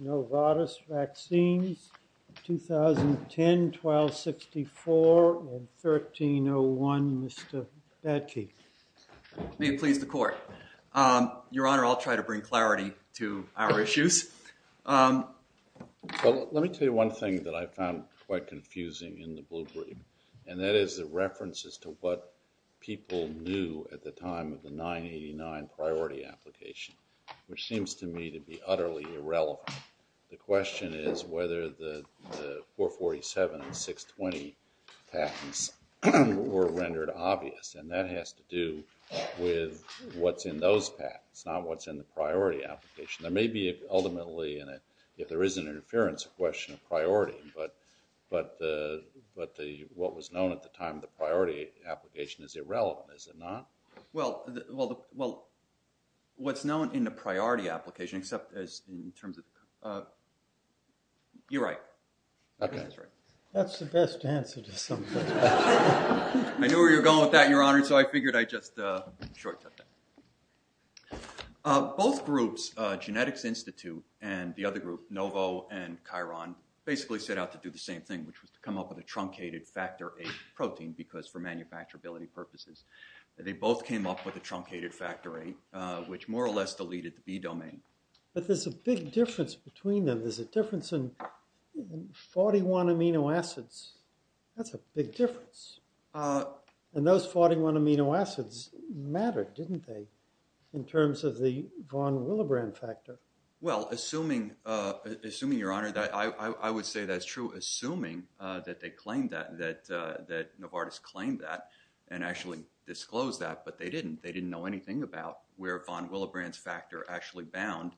NOVARTIS VACCINES 2010-12-64 and 1301, Mr. Batke. May it please the Court. Your Honor, I'll try to bring clarity to our issues. Well, let me tell you one thing that I found quite confusing in the blue brief, and that is the references to what people knew at the time of the 989 priority application, which seems to me to be utterly irrelevant. The question is whether the 447 and 620 patents were rendered obvious, and that has to do with what's in those patents, not what's in the priority application. There may be ultimately, if there is an interference, a question of priority, but what was known at the time of the priority application is irrelevant, is it not? Well, what's known in the priority application, except in terms of... You're right. That's the best answer to some of those questions. I knew where you were going with that, Your Honor, so I figured I'd just short-cut that. Both groups, Genetics Institute and the other group, Novo and Chiron, basically set out to do the same thing, which was to come up with a truncated factor VIII protein, because for manufacturability purposes. They both came up with a truncated factor VIII, which more or less deleted the B domain. But there's a big difference between them. There's a difference in 41 amino acids. That's a big difference. And those 41 amino acids mattered, didn't they, in terms of the von Willebrand factor? Well, assuming, Your Honor, I would say that's true, assuming that they claimed that, that Novartis claimed that and actually disclosed that, but they didn't. They didn't know anything about where von Willebrand's factor actually bound.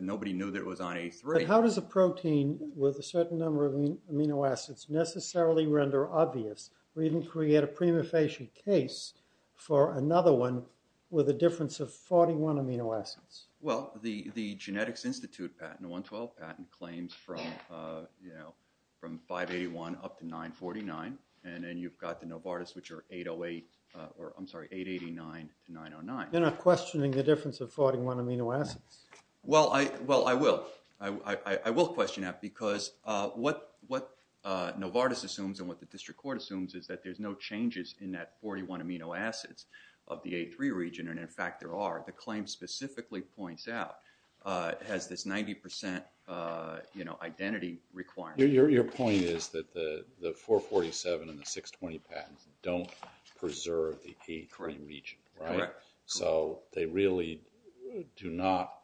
Nobody knew that it was on VIII. But how does a protein with a certain number of amino acids necessarily render obvious, or even create a prima facie case for another one with a difference of 41 amino acids? Well, the Genetics Institute patent, the 112 patent, claims from 581 up to 949, and then you've got the Novartis, which are 808, or I'm sorry, 889 to 909. You're not questioning the difference of 41 amino acids. Well, I will. I will question that, because what Novartis assumes and what the district court assumes is that there's no changes in that 41 amino acids of the Novartis, which simply points out has this 90 percent identity requirement. Your point is that the 447 and the 620 patents don't preserve the A3 region, right? Correct. So they really do not,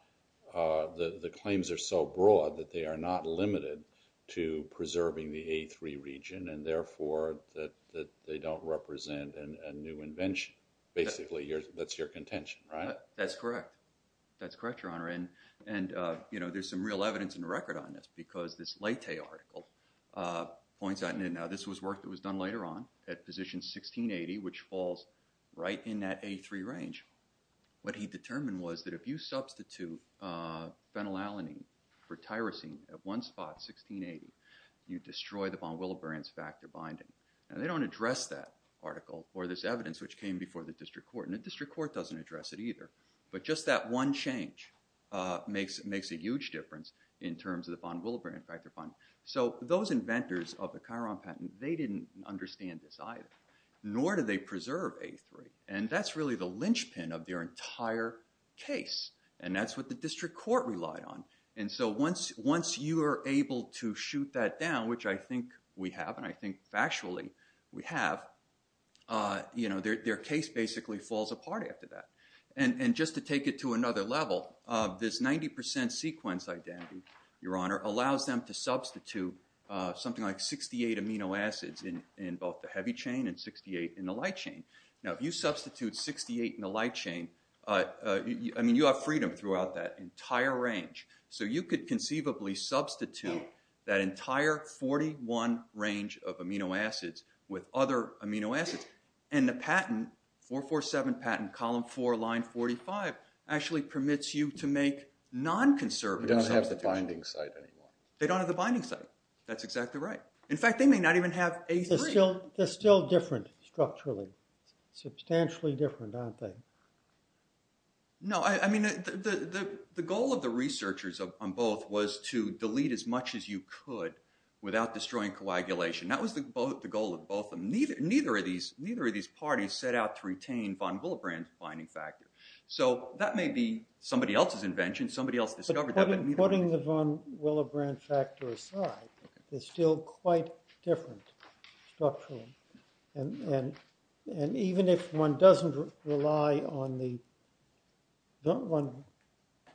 the claims are so broad that they are not limited to preserving the A3 region, and therefore that they don't represent a new invention. Basically, that's your contention, right? That's correct. That's correct, Your Honor. And, you know, there's some real evidence and record on this, because this Leyte article points out, and now this was work that was done later on, at position 1680, which falls right in that A3 range. What he determined was that if you substitute phenylalanine for tyrosine at one spot, 1680, you destroy the von Willebrand's factor binding. Now, they don't address that article or this evidence, which came before the district court, and the district court doesn't address it either, but just that one change makes a huge difference in terms of the von Willebrand factor binding. So those inventors of the Chiron patent, they didn't understand this either, nor do they preserve A3, and that's really the linchpin of their entire case, and that's what the district court relied on. And so once you are able to shoot that down, which I think we have, and I think factually we have, you know, their case basically falls apart after that. And just to take it to another level, this 90% sequence identity, Your Honor, allows them to substitute something like 68 amino acids in both the heavy chain and 68 in the light chain. Now, if you substitute 68 in the light chain, I mean, you have freedom throughout that entire range. So you could conceivably substitute that entire 41 range of amino acids with other amino acids. And the patent, 447 patent, column 4, line 45, actually permits you to make non-conservative substitutions. They don't have the binding site anymore. They don't have the binding site. That's exactly right. In fact, they may not even have A3. They're still different structurally. Substantially different, aren't they? No, I mean, the goal of the researchers on both was to delete as much as you could without destroying coagulation. That was the goal of both of them. Neither of these parties set out to retain von Willebrand's binding factor. So that may be somebody else's invention. Somebody else discovered that. But putting the von Willebrand factor aside, it's still quite different structurally. And even if one doesn't rely on the von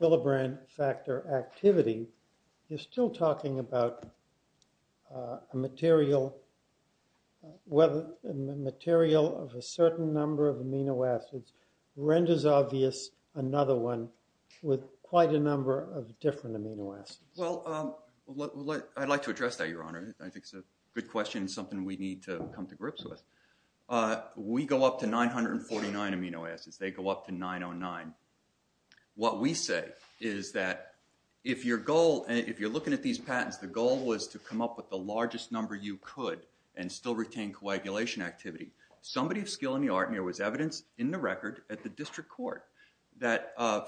Willebrand factor activity, you're still talking about a material of a certain number of amino acids renders obvious another one with quite a number of different amino acids. Well, I'd like to address that, Your Honor. I think it's a good question, something we need to come to grips with. We go up to 949 amino acids. They go up to 909. What we say is that if your goal, if you're looking at these patents, the goal was to come up with the largest number you could and still retain coagulation activity. Somebody of skill in the art, and there was evidence in the record at the district court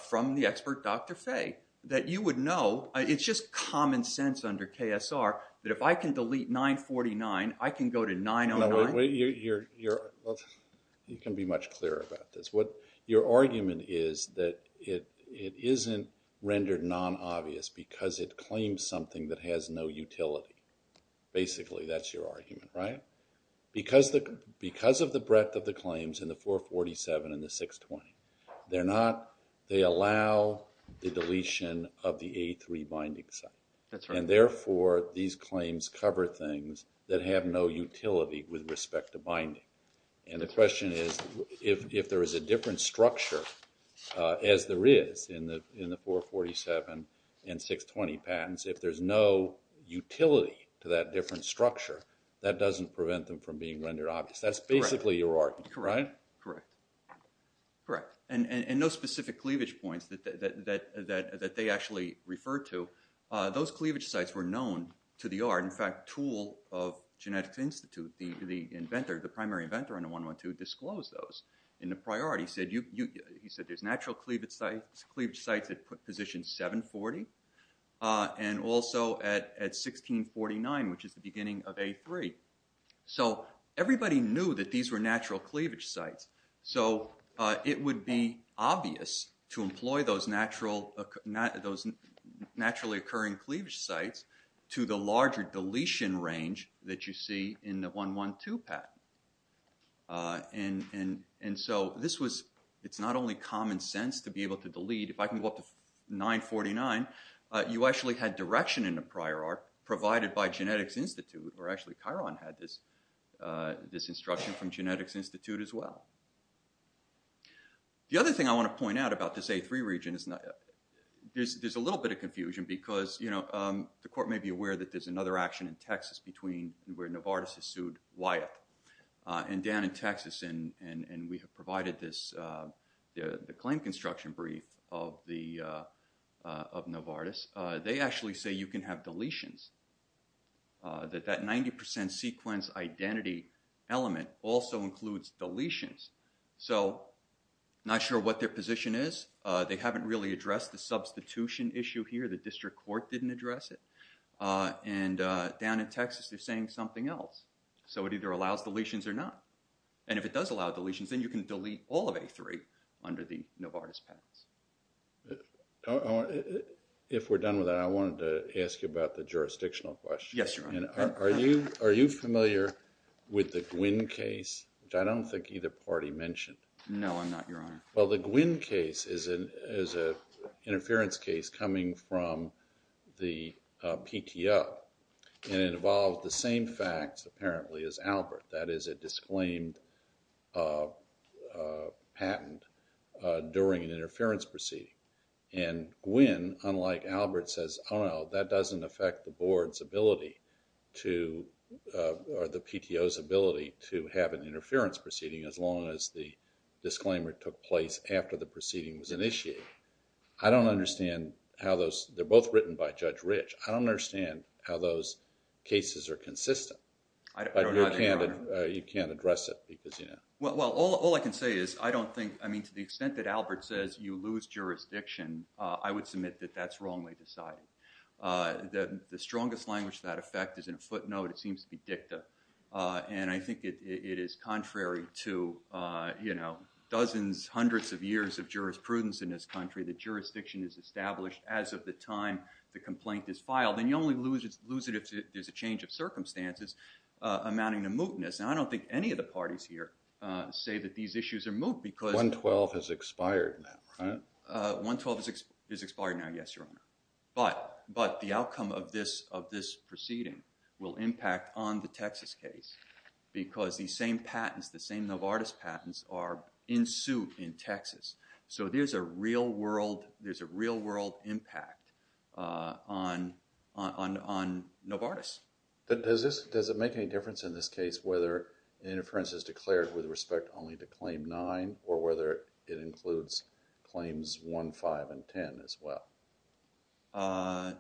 from the expert, Dr. Fay, that you would know. It's just common sense under KSR that if I can delete 949, I can go to 909? You can be much clearer about this. Your argument is that it isn't rendered non-obvious because it claims something that has no utility. Basically, that's your argument, right? Because of the breadth of the 447 and the 620. They allow the deletion of the A3 binding site. And therefore, these claims cover things that have no utility with respect to binding. And the question is, if there is a different structure as there is in the 447 and 620 patents, if there's no utility to that different structure, that doesn't prevent them from being rendered obvious. That's basically your argument, correct? Correct. And no specific cleavage points that they actually refer to. Those cleavage sites were known to the art. In fact, Toole of Genetics Institute, the inventor, the primary inventor under 112, disclosed those in the priority. He said there's natural cleavage sites at position 740 and also at 1649, which is the beginning of A3. So everybody knew that these were natural cleavage sites. So it would be obvious to employ those naturally occurring cleavage sites to the larger deletion range that you see in the 112 patent. And so it's not only common sense to be able to delete. If I can go up to 949, you actually had direction in the prior provided by Genetics Institute, or actually Chiron had this instruction from Genetics Institute as well. The other thing I want to point out about this A3 region is there's a little bit of confusion because the court may be aware that there's another action in Texas between where Novartis has sued Wyatt. And down in Texas, and we have provided the claim construction brief of Novartis, they actually say you can have deletions. That 90% sequence identity element also includes deletions. So not sure what their position is. They haven't really addressed the substitution issue here. The district court didn't address it. And down in Texas, they're saying something else. So it either allows deletions or not. And if it does allow deletions, then you can delete all of Novartis' patents. If we're done with that, I wanted to ask you about the jurisdictional question. Yes, Your Honor. Are you familiar with the Gwynn case, which I don't think either party mentioned? No, I'm not, Your Honor. Well, the Gwynn case is an interference case coming from the PTO. And it involved the same facts, apparently, as Albert. That is a disclaimed patent during an interference proceeding. And Gwynn, unlike Albert, says, oh, no, that doesn't affect the board's ability to, or the PTO's ability to have an interference proceeding as long as the disclaimer took place after the proceeding was initiated. I don't understand how those, they're both written by Judge Rich. I don't understand how those cases are consistent. But you can't address it because, you know. Well, all I can say is, I don't think, I mean, to the extent that Albert says you lose jurisdiction, I would submit that that's wrongly decided. The strongest language to that effect is, in a footnote, it seems to be dicta. And I think it is contrary to, you know, dozens, hundreds of years of jurisprudence in this country, that jurisdiction is established as of the time the complaint is loosened if there's a change of circumstances amounting to mootness. And I don't think any of the parties here say that these issues are moot because- 112 has expired now, right? 112 is expired now, yes, Your Honor. But the outcome of this proceeding will impact on the Texas case because these same patents, the same Novartis patents, are in suit in Texas. So there's a real-world, there's a real-world impact on Novartis. But does this, does it make any difference in this case whether the interference is declared with respect only to Claim 9 or whether it includes Claims 1, 5, and 10 as well? I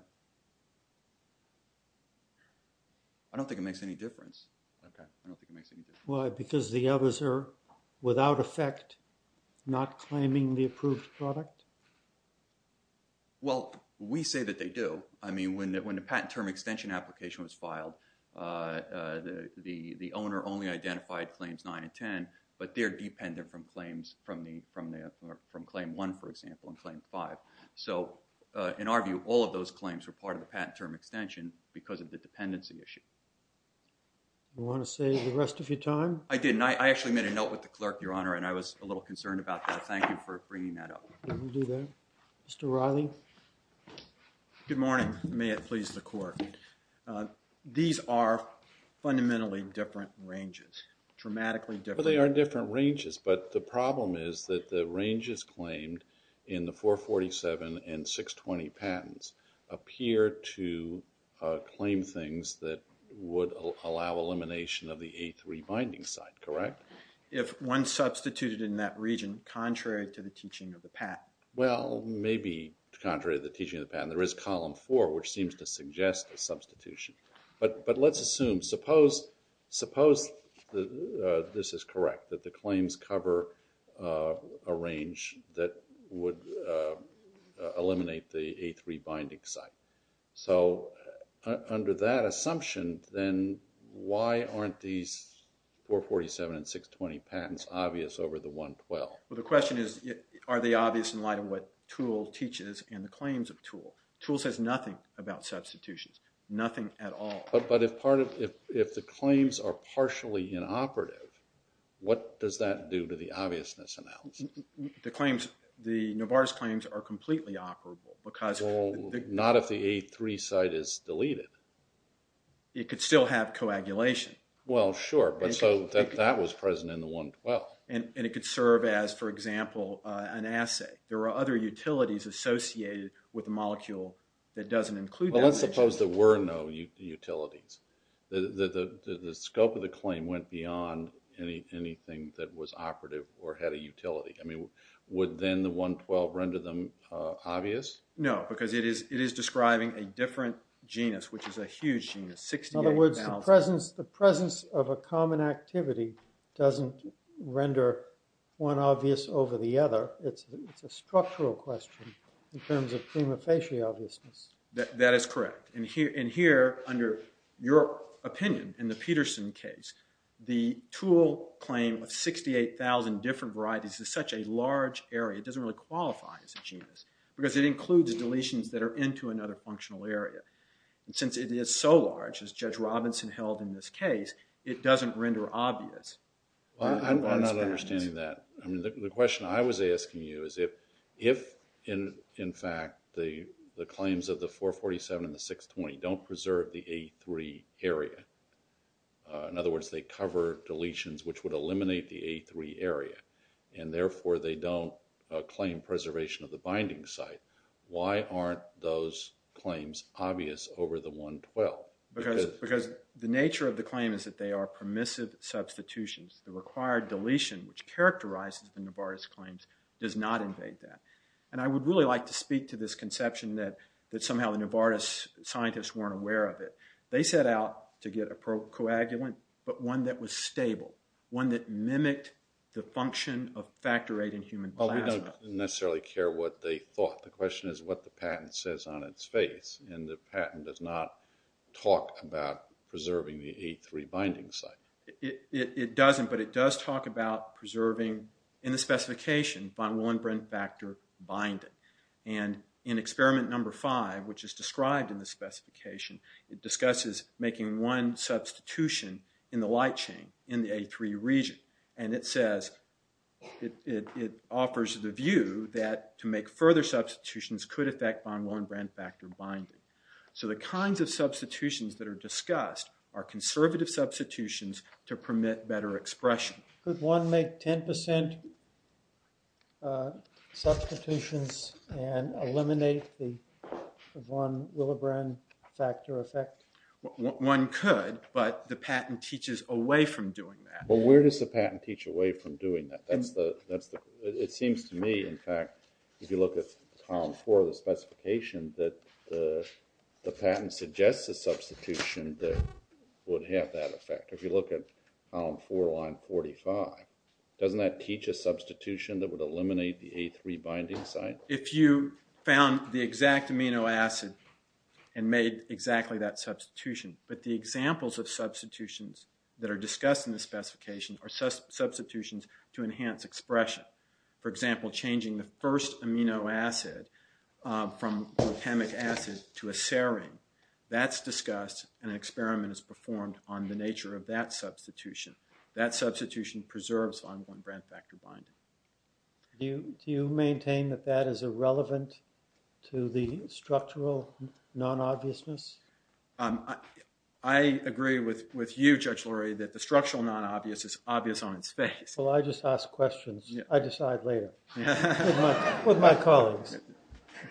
don't think it makes any difference. Okay. I don't think it makes any difference. I don't think it makes any difference. Okay. Well, we say that they do. I mean, when the patent term extension application was filed, the owner only identified Claims 9 and 10, but they're dependent from Claims 1, for example, and Claim 5. So in our view, all of those claims were part of the patent term extension because of the dependency issue. You want to save the rest of your time? I didn't. I actually made a note with the clerk, Your Honor, and I was a little concerned about that. Thank you for bringing that up. Mr. Riley? Good morning. May it please the Court. These are fundamentally different ranges, dramatically different. Well, they are different ranges, but the problem is that the ranges claimed in the 447 and 620 patents appear to claim things that would allow elimination of the A3 binding site, correct? If one substituted in that region, contrary to the teaching of the patent. Well, maybe contrary to the teaching of the patent. There is Column 4, which seems to suggest a substitution. But let's assume, suppose this is correct, that the claims cover a range that would eliminate the A3 binding site. So under that assumption, then why aren't these 447 and 620 patents obvious over the 112? Well, the question is, are they obvious in light of what TOOL teaches and the claims of TOOL? TOOL says nothing about substitutions, nothing at all. But if part of, if the claims are partially inoperative, what does that do to the obviousness analysis? The claims, the Novartis claims are completely operable because... Well, not if the A3 site is deleted. It could still have coagulation. Well, sure, but so that was present in the 112. And it could serve as, for example, an assay. There are other utilities associated with a molecule that doesn't include that. Well, let's suppose there were no utilities. The scope of the claim went beyond anything that was operative or had a utility. I mean, would then the 112 render them obvious? No, because it is describing a different genus, which is a huge genus, 68,000. In other words, the presence of a common activity doesn't render one obvious over the other. It's a structural question in terms of prima facie obviousness. That is correct. And here, under your opinion, in the Peterson case, the tool claim of 68,000 different varieties is such a large area, it doesn't really qualify as a genus because it includes deletions that are into another functional area. And since it is so large, as Judge Robinson held in this case, it doesn't render obvious. Well, I'm not understanding that. I mean, the question I was asking you is if, in fact, the claims of the 447 and the 620 don't preserve the A3 area, in other words, they cover deletions which would eliminate the A3 area, and therefore they don't claim preservation of the binding site, why aren't those claims obvious over the 112? Because the nature of the claim is that they are permissive substitutions. The required deletion, which characterizes the Novartis claims, does not invade that. And I would really like to speak to this case, but I'm not aware of it. They set out to get a coagulant, but one that was stable, one that mimicked the function of factor VIII in human plasma. Well, we don't necessarily care what they thought. The question is what the patent says on its face, and the patent does not talk about preserving the A3 binding site. It doesn't, but it does talk about preserving, in the specification, von Willenbrandt factor binding. And in experiment number five, which is described in the specification, it discusses making one substitution in the light chain, in the A3 region, and it says, it offers the view that to make further substitutions could affect von Willenbrandt factor binding. So the kinds of substitutions that are discussed are conservative substitutions to permit better expression. Could one make 10% substitutions and eliminate the von Willenbrandt factor effect? One could, but the patent teaches away from doing that. Well, where does the patent teach away from doing that? It seems to me, in fact, if you look at column four of the specification, that the patent suggests a substitution that would have that effect. If you look at column four, line 45, doesn't that teach a substitution that would eliminate the A3 binding site? If you found the exact amino acid and made exactly that substitution, but the examples of substitutions that are discussed in the specification are substitutions to enhance expression. For example, changing the first amino acid from glutamic acid to a serine. That's discussed, and an experiment is performed on the nature of that substitution. That substitution preserves von Willenbrandt factor binding. Do you maintain that that is irrelevant to the structural non-obviousness? I agree with you, Judge Lurie, that the structural non-obvious is obvious on its face. Well, I just ask questions. I decide later with my colleagues.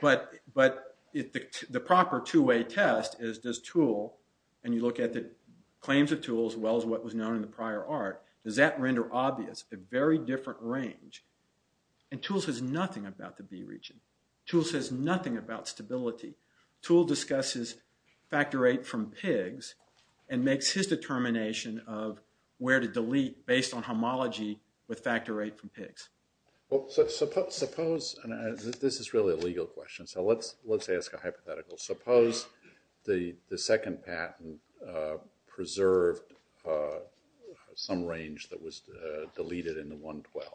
But the proper two-way test is does TOOL, and you look at the claims of TOOL as well as what was known in the prior art, does that render obvious a very different range? And TOOL says nothing about the B region. TOOL says nothing about stability. TOOL discusses factor VIII from pigs and makes his determination of where to delete based on homology with factor VIII from pigs. Well, suppose, and this is really a legal question, so let's ask a hypothetical. Suppose the second patent preserved some range that was deleted in the 112,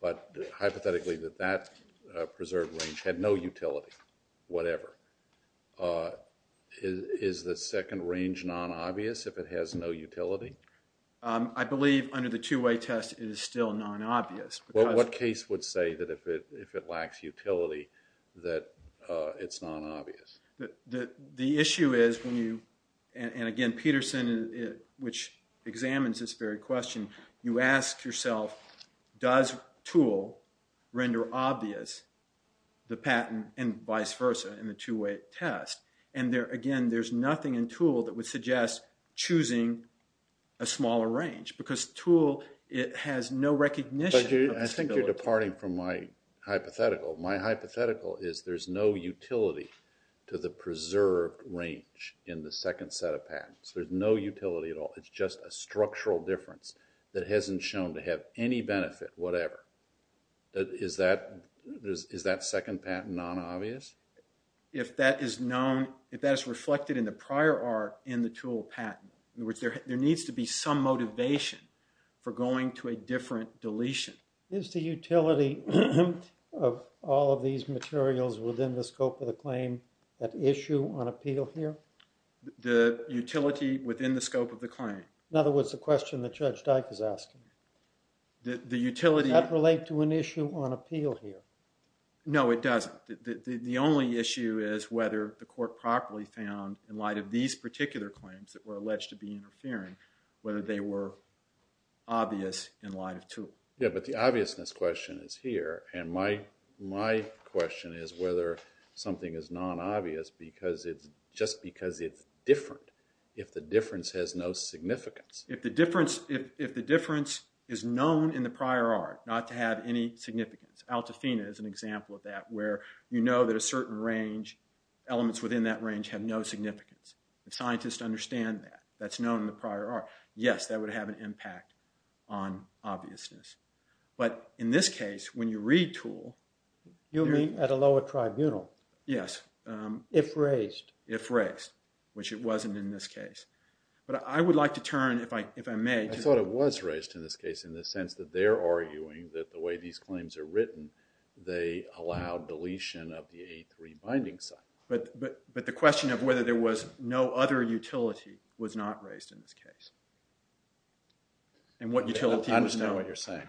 but hypothetically that that preserved range had no utility, whatever. Is the second range non-obvious if it has no utility? I believe under the two-way test it is still non-obvious. What case would say that if it lacks utility that it's non-obvious? The issue is when you, and again, Peterson, which examines this very question, you ask yourself, does TOOL render obvious the patent and vice versa in the two-way test? And again, there's nothing in TOOL that would suggest choosing a smaller range because TOOL, it has no recognition. I think you're departing from my hypothetical. My hypothetical is there's no utility to the preserved range in the second set of patents. There's no utility at all. It's just a structural difference that hasn't shown to have any benefit, whatever. Is that second patent non-obvious? If that is known, if that is reflected in the prior art in the TOOL patent, there needs to be some motivation for going to a different deletion. Is the utility of all of these materials within the scope of the claim that issue on appeal here? The utility within the scope of the claim. In other words, the question that Judge Dike is asking. The utility... Does that relate to an issue on appeal here? No, it doesn't. The only issue is whether the court properly found in light of these particular claims that were alleged to be interfering, whether they were obvious in light of TOOL. Yeah, but the obviousness question is here. And my question is whether something is non-obvious just because it's different, if the difference has no significance. If the difference is known in the prior art, not to have any significance. Altafina is an example of that, where you know that a certain range, elements within that range have no significance. If scientists understand that, that's known in the prior art, yes, that would have an impact on obviousness. But in this case, when you read TOOL... You mean at a lower tribunal? Yes. If raised. If raised, which it wasn't in this case. But I would like to turn, if I may... I thought it was raised in this case in the sense that they're arguing that the way these claims are written, they allow deletion of the A3 binding site. But the question of whether there was no other utility was not raised in this case. And what utility was known? I understand what you're saying.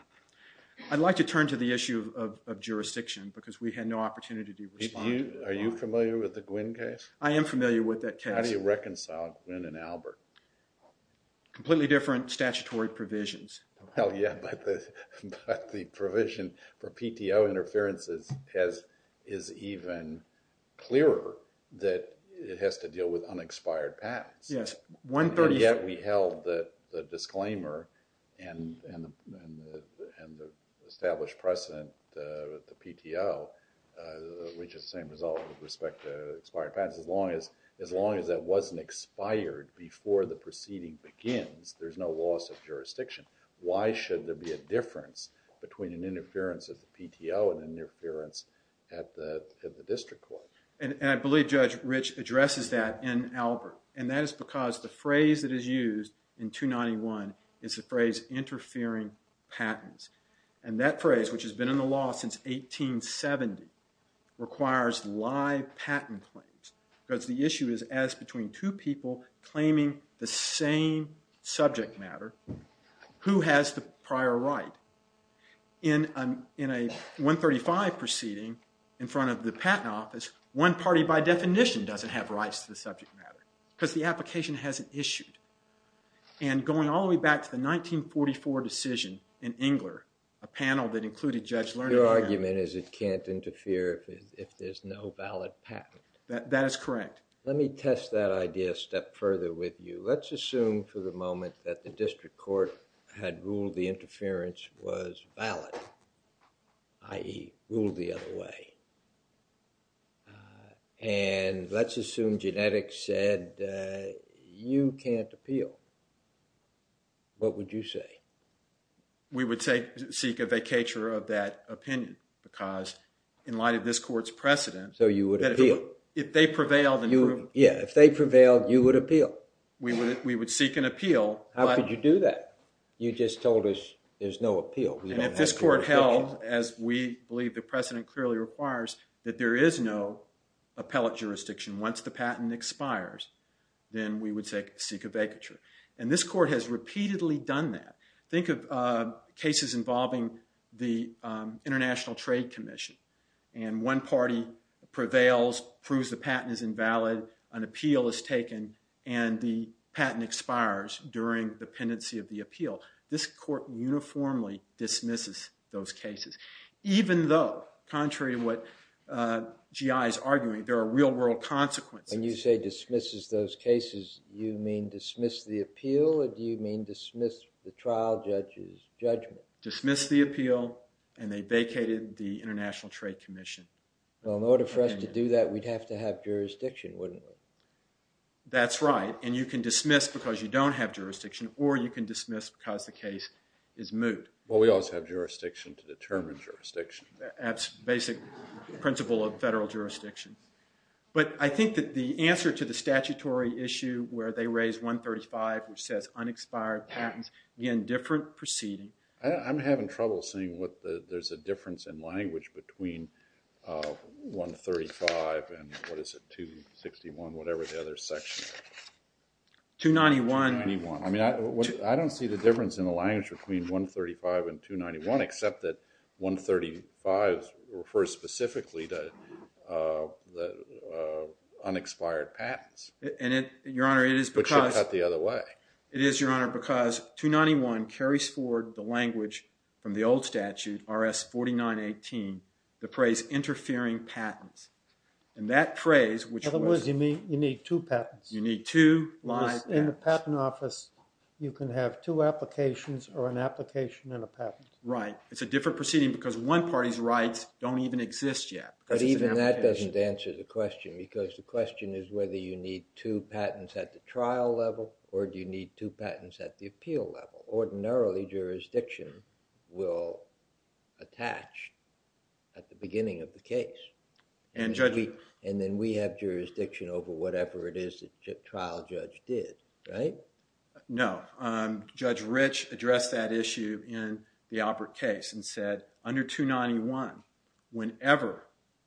I'd like to turn to the issue of jurisdiction because we had no opportunity to respond. Are you familiar with the Gwynn case? I am familiar with that case. How do you reconcile Gwynn and Albert? Completely different statutory provisions. Well, yeah. But the provision for PTO interferences is even clearer that it has to deal with unexpired patents. Yes. And yet we held the disclaimer and the established precedent, the PTO, which is the same result with respect to expired patents. As long as that wasn't expired before the proceeding begins, there's no loss of jurisdiction. Why should there be a difference between an interference at the PTO and an interference at the district court? And I believe Judge Rich addresses that in Albert. And that is because the phrase that is used in 291 is the phrase interfering patents. And that phrase, which has been in the law since 1870, requires live patent claims. Because the issue is as between two people claiming the same subject matter, who has the prior right? In a 135 proceeding in front of the patent office, one party by definition doesn't have rights to the subject matter because the application hasn't issued. And going all the way back to the 1944 decision in Engler, a panel that included Judge Lerner Your argument is it can't interfere if there's no valid patent. That is correct. Let me test that idea a step further with you. Let's assume for the moment that the district court had ruled the interference was valid, i.e. ruled the other way. And let's assume genetics said you can't appeal. What would you say? We would seek a vacatur of that opinion because in light of this court's precedent So you would appeal? If they prevailed and proved it. Yeah, if they prevailed, you would appeal. We would seek an appeal. How could you do that? You just told us there's no appeal. And if this court held, as we believe the precedent clearly requires, that there is no appellate jurisdiction once the patent expires, then we would seek a vacatur. And this court has repeatedly done that. Think of cases involving the International Trade Commission. And one party prevails, proves the patent is invalid, an appeal is taken, and the patent expires during the pendency of the appeal. This court uniformly dismisses those cases, even though, contrary to what GI is arguing, there are real-world consequences. When you say dismisses those cases, you mean dismiss the appeal, or do you mean dismiss the trial judge's judgment? Dismiss the appeal, and they vacated the International Trade Commission. Well, in order for us to do that, we'd have to have jurisdiction, wouldn't we? That's right. And you can dismiss because you don't have jurisdiction, or you can dismiss because the case is moot. Well, we always have jurisdiction to determine jurisdiction. That's basic principle of federal jurisdiction. But I think that the answer to the statutory issue where they raise 135, which says unexpired patents, again, different proceeding. I'm having trouble seeing what there's a difference in language between 135 and, what is it, 261, whatever the other section is. 291. 291. I mean, I don't see the difference in the language between 135 and 291, except that 135 refers specifically to unexpired patents. And it, Your Honor, it is because— Which is cut the other way. It is, Your Honor, because 291 carries forward the language from the old statute, RS-4918, the phrase interfering patents. And that phrase, which was— In other words, you need two patents. You need two live patents. In the patent office, you can have two applications or an application and a patent. Right. It's a different proceeding because one party's rights don't even exist yet. But even that doesn't answer the question, because the question is whether you need two patents at the trial level or do you need two patents at the appeal level. Ordinarily, jurisdiction will attach at the beginning of the case. And then we have jurisdiction over whatever it is the trial judge did, right? No. Judge Rich addressed that issue in the Alpert case and said, under 291, whenever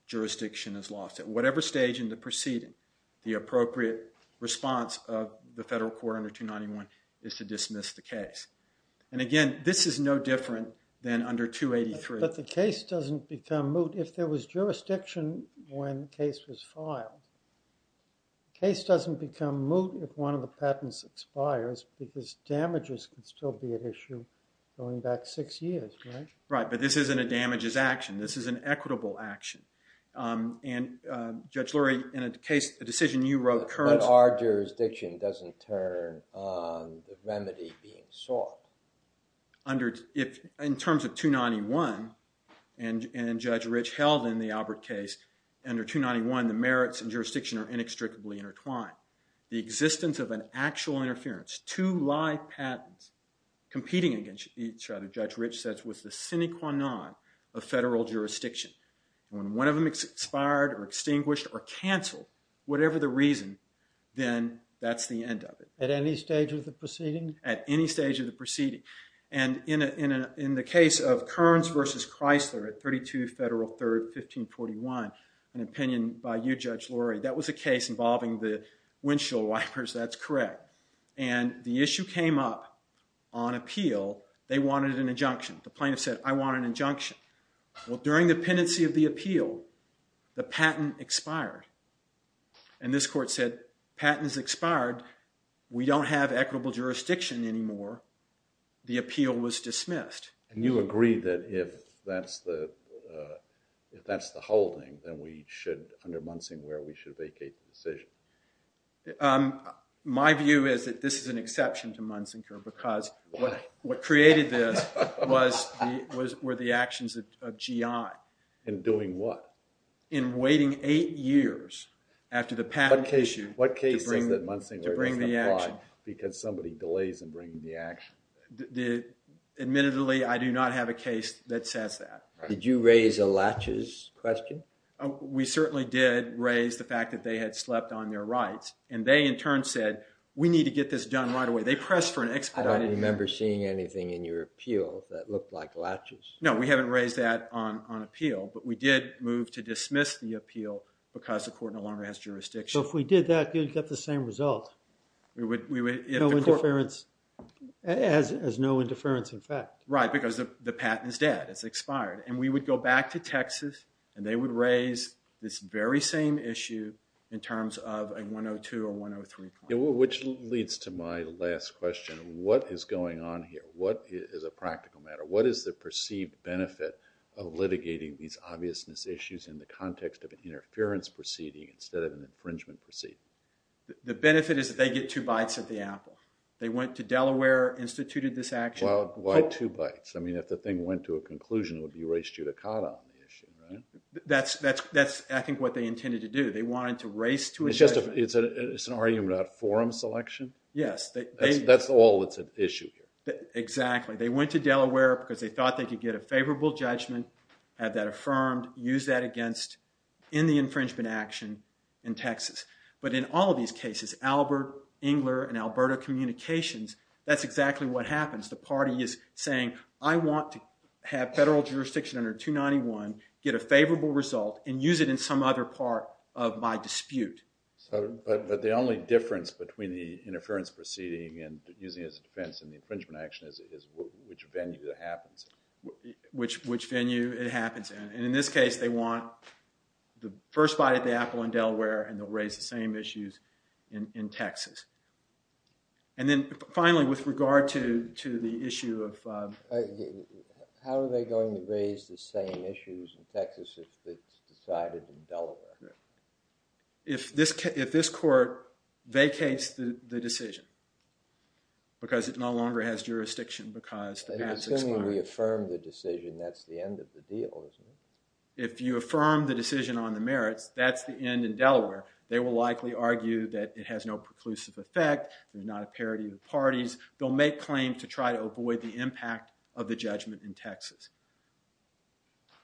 jurisdiction is lost, at whatever stage in the proceeding, the appropriate response of the federal court under 291 is to dismiss the case. And again, this is no different than under 283. But the case doesn't become moot if there was jurisdiction when the case was filed. The case doesn't become moot if one of the patents expires, because damages can still be an issue going back six years, right? Right. But this isn't a damages action. This is an equitable action. And Judge Lurie, in a case, a decision you wrote currently- But our jurisdiction doesn't turn on the remedy being sought. In terms of 291, and Judge Rich held in the Alpert case, under 291, the merits and jurisdiction are inextricably intertwined. The existence of an actual interference, two live patents competing against each other, was the sine qua non of federal jurisdiction. And when one of them expired or extinguished or canceled, whatever the reason, then that's the end of it. At any stage of the proceeding? At any stage of the proceeding. And in the case of Kearns v. Chrysler at 32 Federal 3rd, 1541, an opinion by you, Judge Lurie, that was a case involving the windshield wipers. That's correct. And the issue came up on appeal. They wanted an injunction. The plaintiff said, I want an injunction. Well, during the pendency of the appeal, the patent expired. And this court said, patent has expired. We don't have equitable jurisdiction anymore. The appeal was dismissed. And you agree that if that's the holding, then we should, under Munsinker, we should vacate the decision? My view is that this is an exception to Munsinker because- Why? What created this were the actions of GI. In doing what? In waiting eight years after the patent issue to bring the action. What case says that Munsinker doesn't apply because somebody delays in bringing the action? Admittedly, I do not have a case that says that. Did you raise a latches question? We certainly did raise the fact that they had slept on their rights. And they, in turn, said, we need to get this done right away. They pressed for an expedite. I didn't remember seeing anything in your appeal that looked like latches. No, we haven't raised that on appeal. But we did move to dismiss the appeal because the court no longer has jurisdiction. So if we did that, you'd get the same result? We would- No interference, as no interference, in fact. Right, because the patent is dead. It's expired. And we would go back to Texas. And they would raise this very same issue in terms of a 102 or 103 point. Which leads to my last question. What is going on here? What is a practical matter? What is the perceived benefit of litigating these obviousness issues in the context of an interference proceeding instead of an infringement proceeding? The benefit is that they get two bites at the apple. They went to Delaware, instituted this action. Well, why two bites? I mean, if the thing went to a conclusion, it would be race judicata on the issue, right? That's, I think, what they intended to do. They wanted to race to a judgment. It's an argument about forum selection? Yes. That's all that's at issue here. Exactly. They went to Delaware because they thought they could get a favorable judgment, have that affirmed, use that against in the infringement action in Texas. But in all of these cases, Albert, Engler, and Alberta Communications, that's exactly what happens. The party is saying, I want to have federal jurisdiction under 291, get a favorable result, and use it in some other part of my dispute. But the only difference between the interference proceeding and using it as a defense in the infringement action is which venue that happens. Which venue it happens in. And in this case, they want the first bite at the apple in Delaware, and they'll raise the same issues in Texas. And then finally, with regard to the issue of- How are they going to raise the same issues in Texas if it's decided in Delaware? If this court vacates the decision, because it no longer has jurisdiction, because the past is fine- And assuming we affirm the decision, that's the end of the deal, isn't it? If you affirm the decision on the merits, that's the end in Delaware. They will likely argue that it has no preclusive effect, there's not a parity of parties. They'll make claims to try to avoid the impact of the judgment in Texas.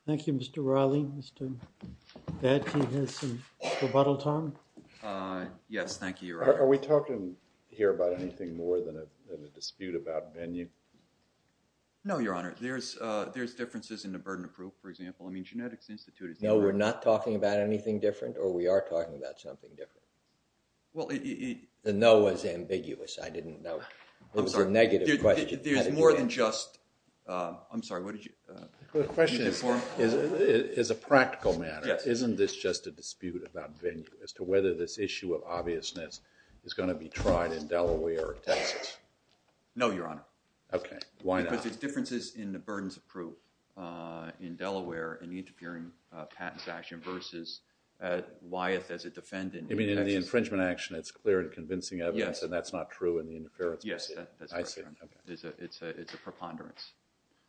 Thank you, Mr. Riley. Mr. Batty has some rebuttal time. Yes, thank you, Your Honor. Are we talking here about anything more than a dispute about venue? No, Your Honor. There's differences in the burden of proof, for example. I mean, Genetics Institute is- No, we're not talking about anything different, or we are talking about something different. Well, it- The no was ambiguous. I didn't know. It was a negative question. There's more than just- I'm sorry, what did you- The question is, as a practical matter, isn't this just a dispute about venue, as to whether this issue of obviousness is going to be tried in Delaware or Texas? No, Your Honor. Okay, why not? Because there's differences in the burdens of proof in Delaware, in the interfering patents action, versus Wyeth as a defendant in Texas. You mean in the infringement action, it's clear and convincing evidence, and that's not true in the interference proceeding? Yes, that's correct, Your Honor. I see, okay. It's a preponderance.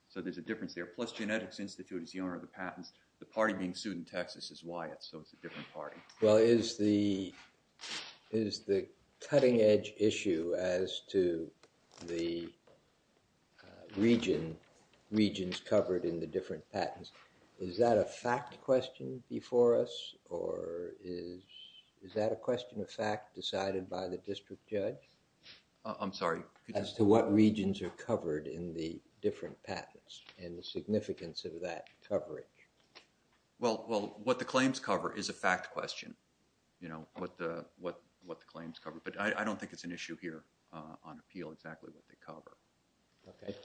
So there's a difference there. Plus, Genetics Institute is the owner of the patents. The party being sued in Texas is Wyeth, so it's a different party. Well, is the cutting-edge issue as to the regions covered in the different patents, is that a fact question before us, or is that a question of fact decided by the district judge? I'm sorry, could you- in the significance of that coverage? Well, what the claims cover is a fact question, you know, what the claims cover. But I don't think it's an issue here on appeal exactly what they cover. Okay.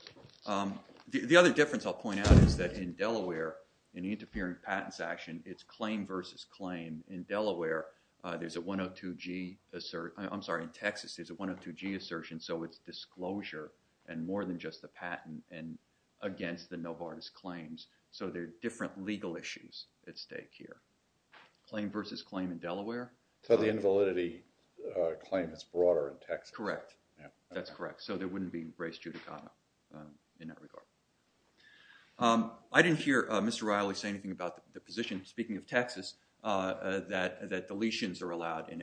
The other difference I'll point out is that in Delaware, in the interfering patents action, it's claim versus claim. In Delaware, there's a 102G assert- I'm sorry, in Texas, there's a 102G assertion, so it's disclosure and more than just the patent and against the Novartis claims. So there are different legal issues at stake here. Claim versus claim in Delaware. So the invalidity claim is broader in Texas. Correct. That's correct. So there wouldn't be race judicata in that regard. I didn't hear Mr. Riley say anything about the position, speaking of Texas, that deletions are allowed in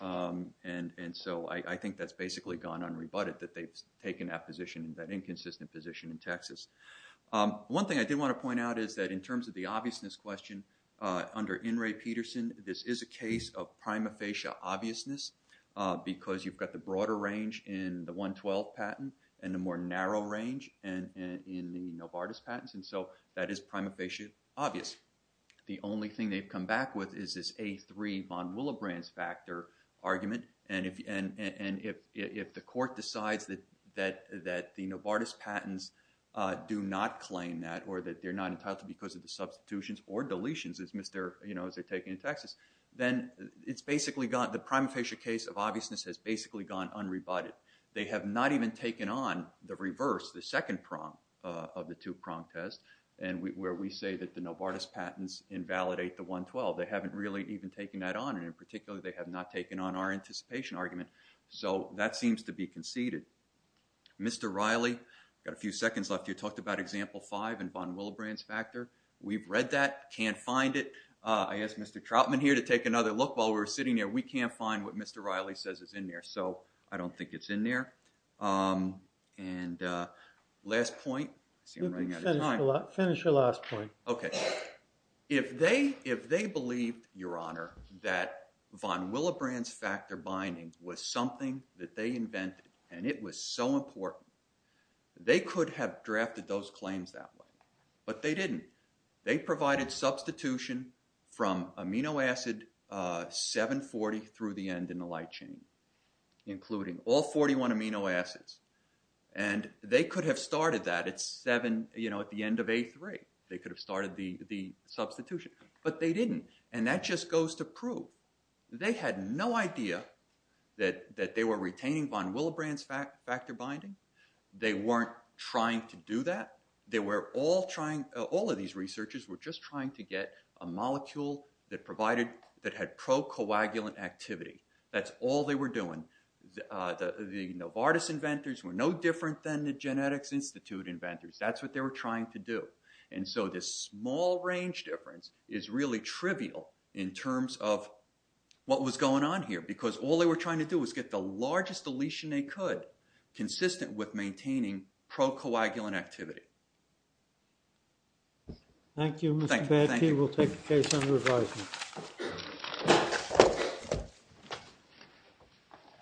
A3. And so I think that's basically gone unrebutted, that they've taken that position, that inconsistent position in Texas. One thing I did want to point out is that in terms of the obviousness question, under N. Ray Peterson, this is a case of prima facie obviousness, because you've got the broader range in the 112 patent, and the more narrow range in the Novartis patents. And so that is prima facie obvious. The only thing they've come back with is this A3 von Willebrand's factor argument. And if the court decides that the Novartis patents do not claim that, or that they're not entitled to because of the substitutions or deletions, as they're taking in Texas, then it's basically gone. The prima facie case of obviousness has basically gone unrebutted. They have not even taken on the reverse, the second prong of the two-prong test, and where we say that the Novartis patents invalidate the 112. They haven't really even taken that on. And in particular, they have not taken on our anticipation argument. So that seems to be conceded. Mr. Riley, I've got a few seconds left. You talked about example five and von Willebrand's factor. We've read that, can't find it. I asked Mr. Troutman here to take another look while we were sitting here. We can't find what Mr. Riley says is in there. So I don't think it's in there. And last point. See, I'm running out of time. Finish your last point. OK. If they believed, Your Honor, that von Willebrand's factor binding was something that they invented and it was so important, they could have drafted those claims that way. But they didn't. They provided substitution from amino acid 740 through the end in the light chain, including all 41 amino acids. And they could have started that at 7, you know, at the end of A3. They could have started the substitution. But they didn't. And that just goes to prove they had no idea that they were retaining von Willebrand's factor binding. They weren't trying to do that. They were all trying, all of these researchers were just trying to get a molecule that provided, that had pro-coagulant activity. That's all they were doing. The Novartis inventors were no different than the Genetics Institute inventors. That's what they were trying to do. And so this small range difference is really trivial in terms of what was going on here. Because all they were trying to do was get the largest deletion they could, consistent with maintaining pro-coagulant activity. Thank you, Mr. Badke. We'll take the case under advisement.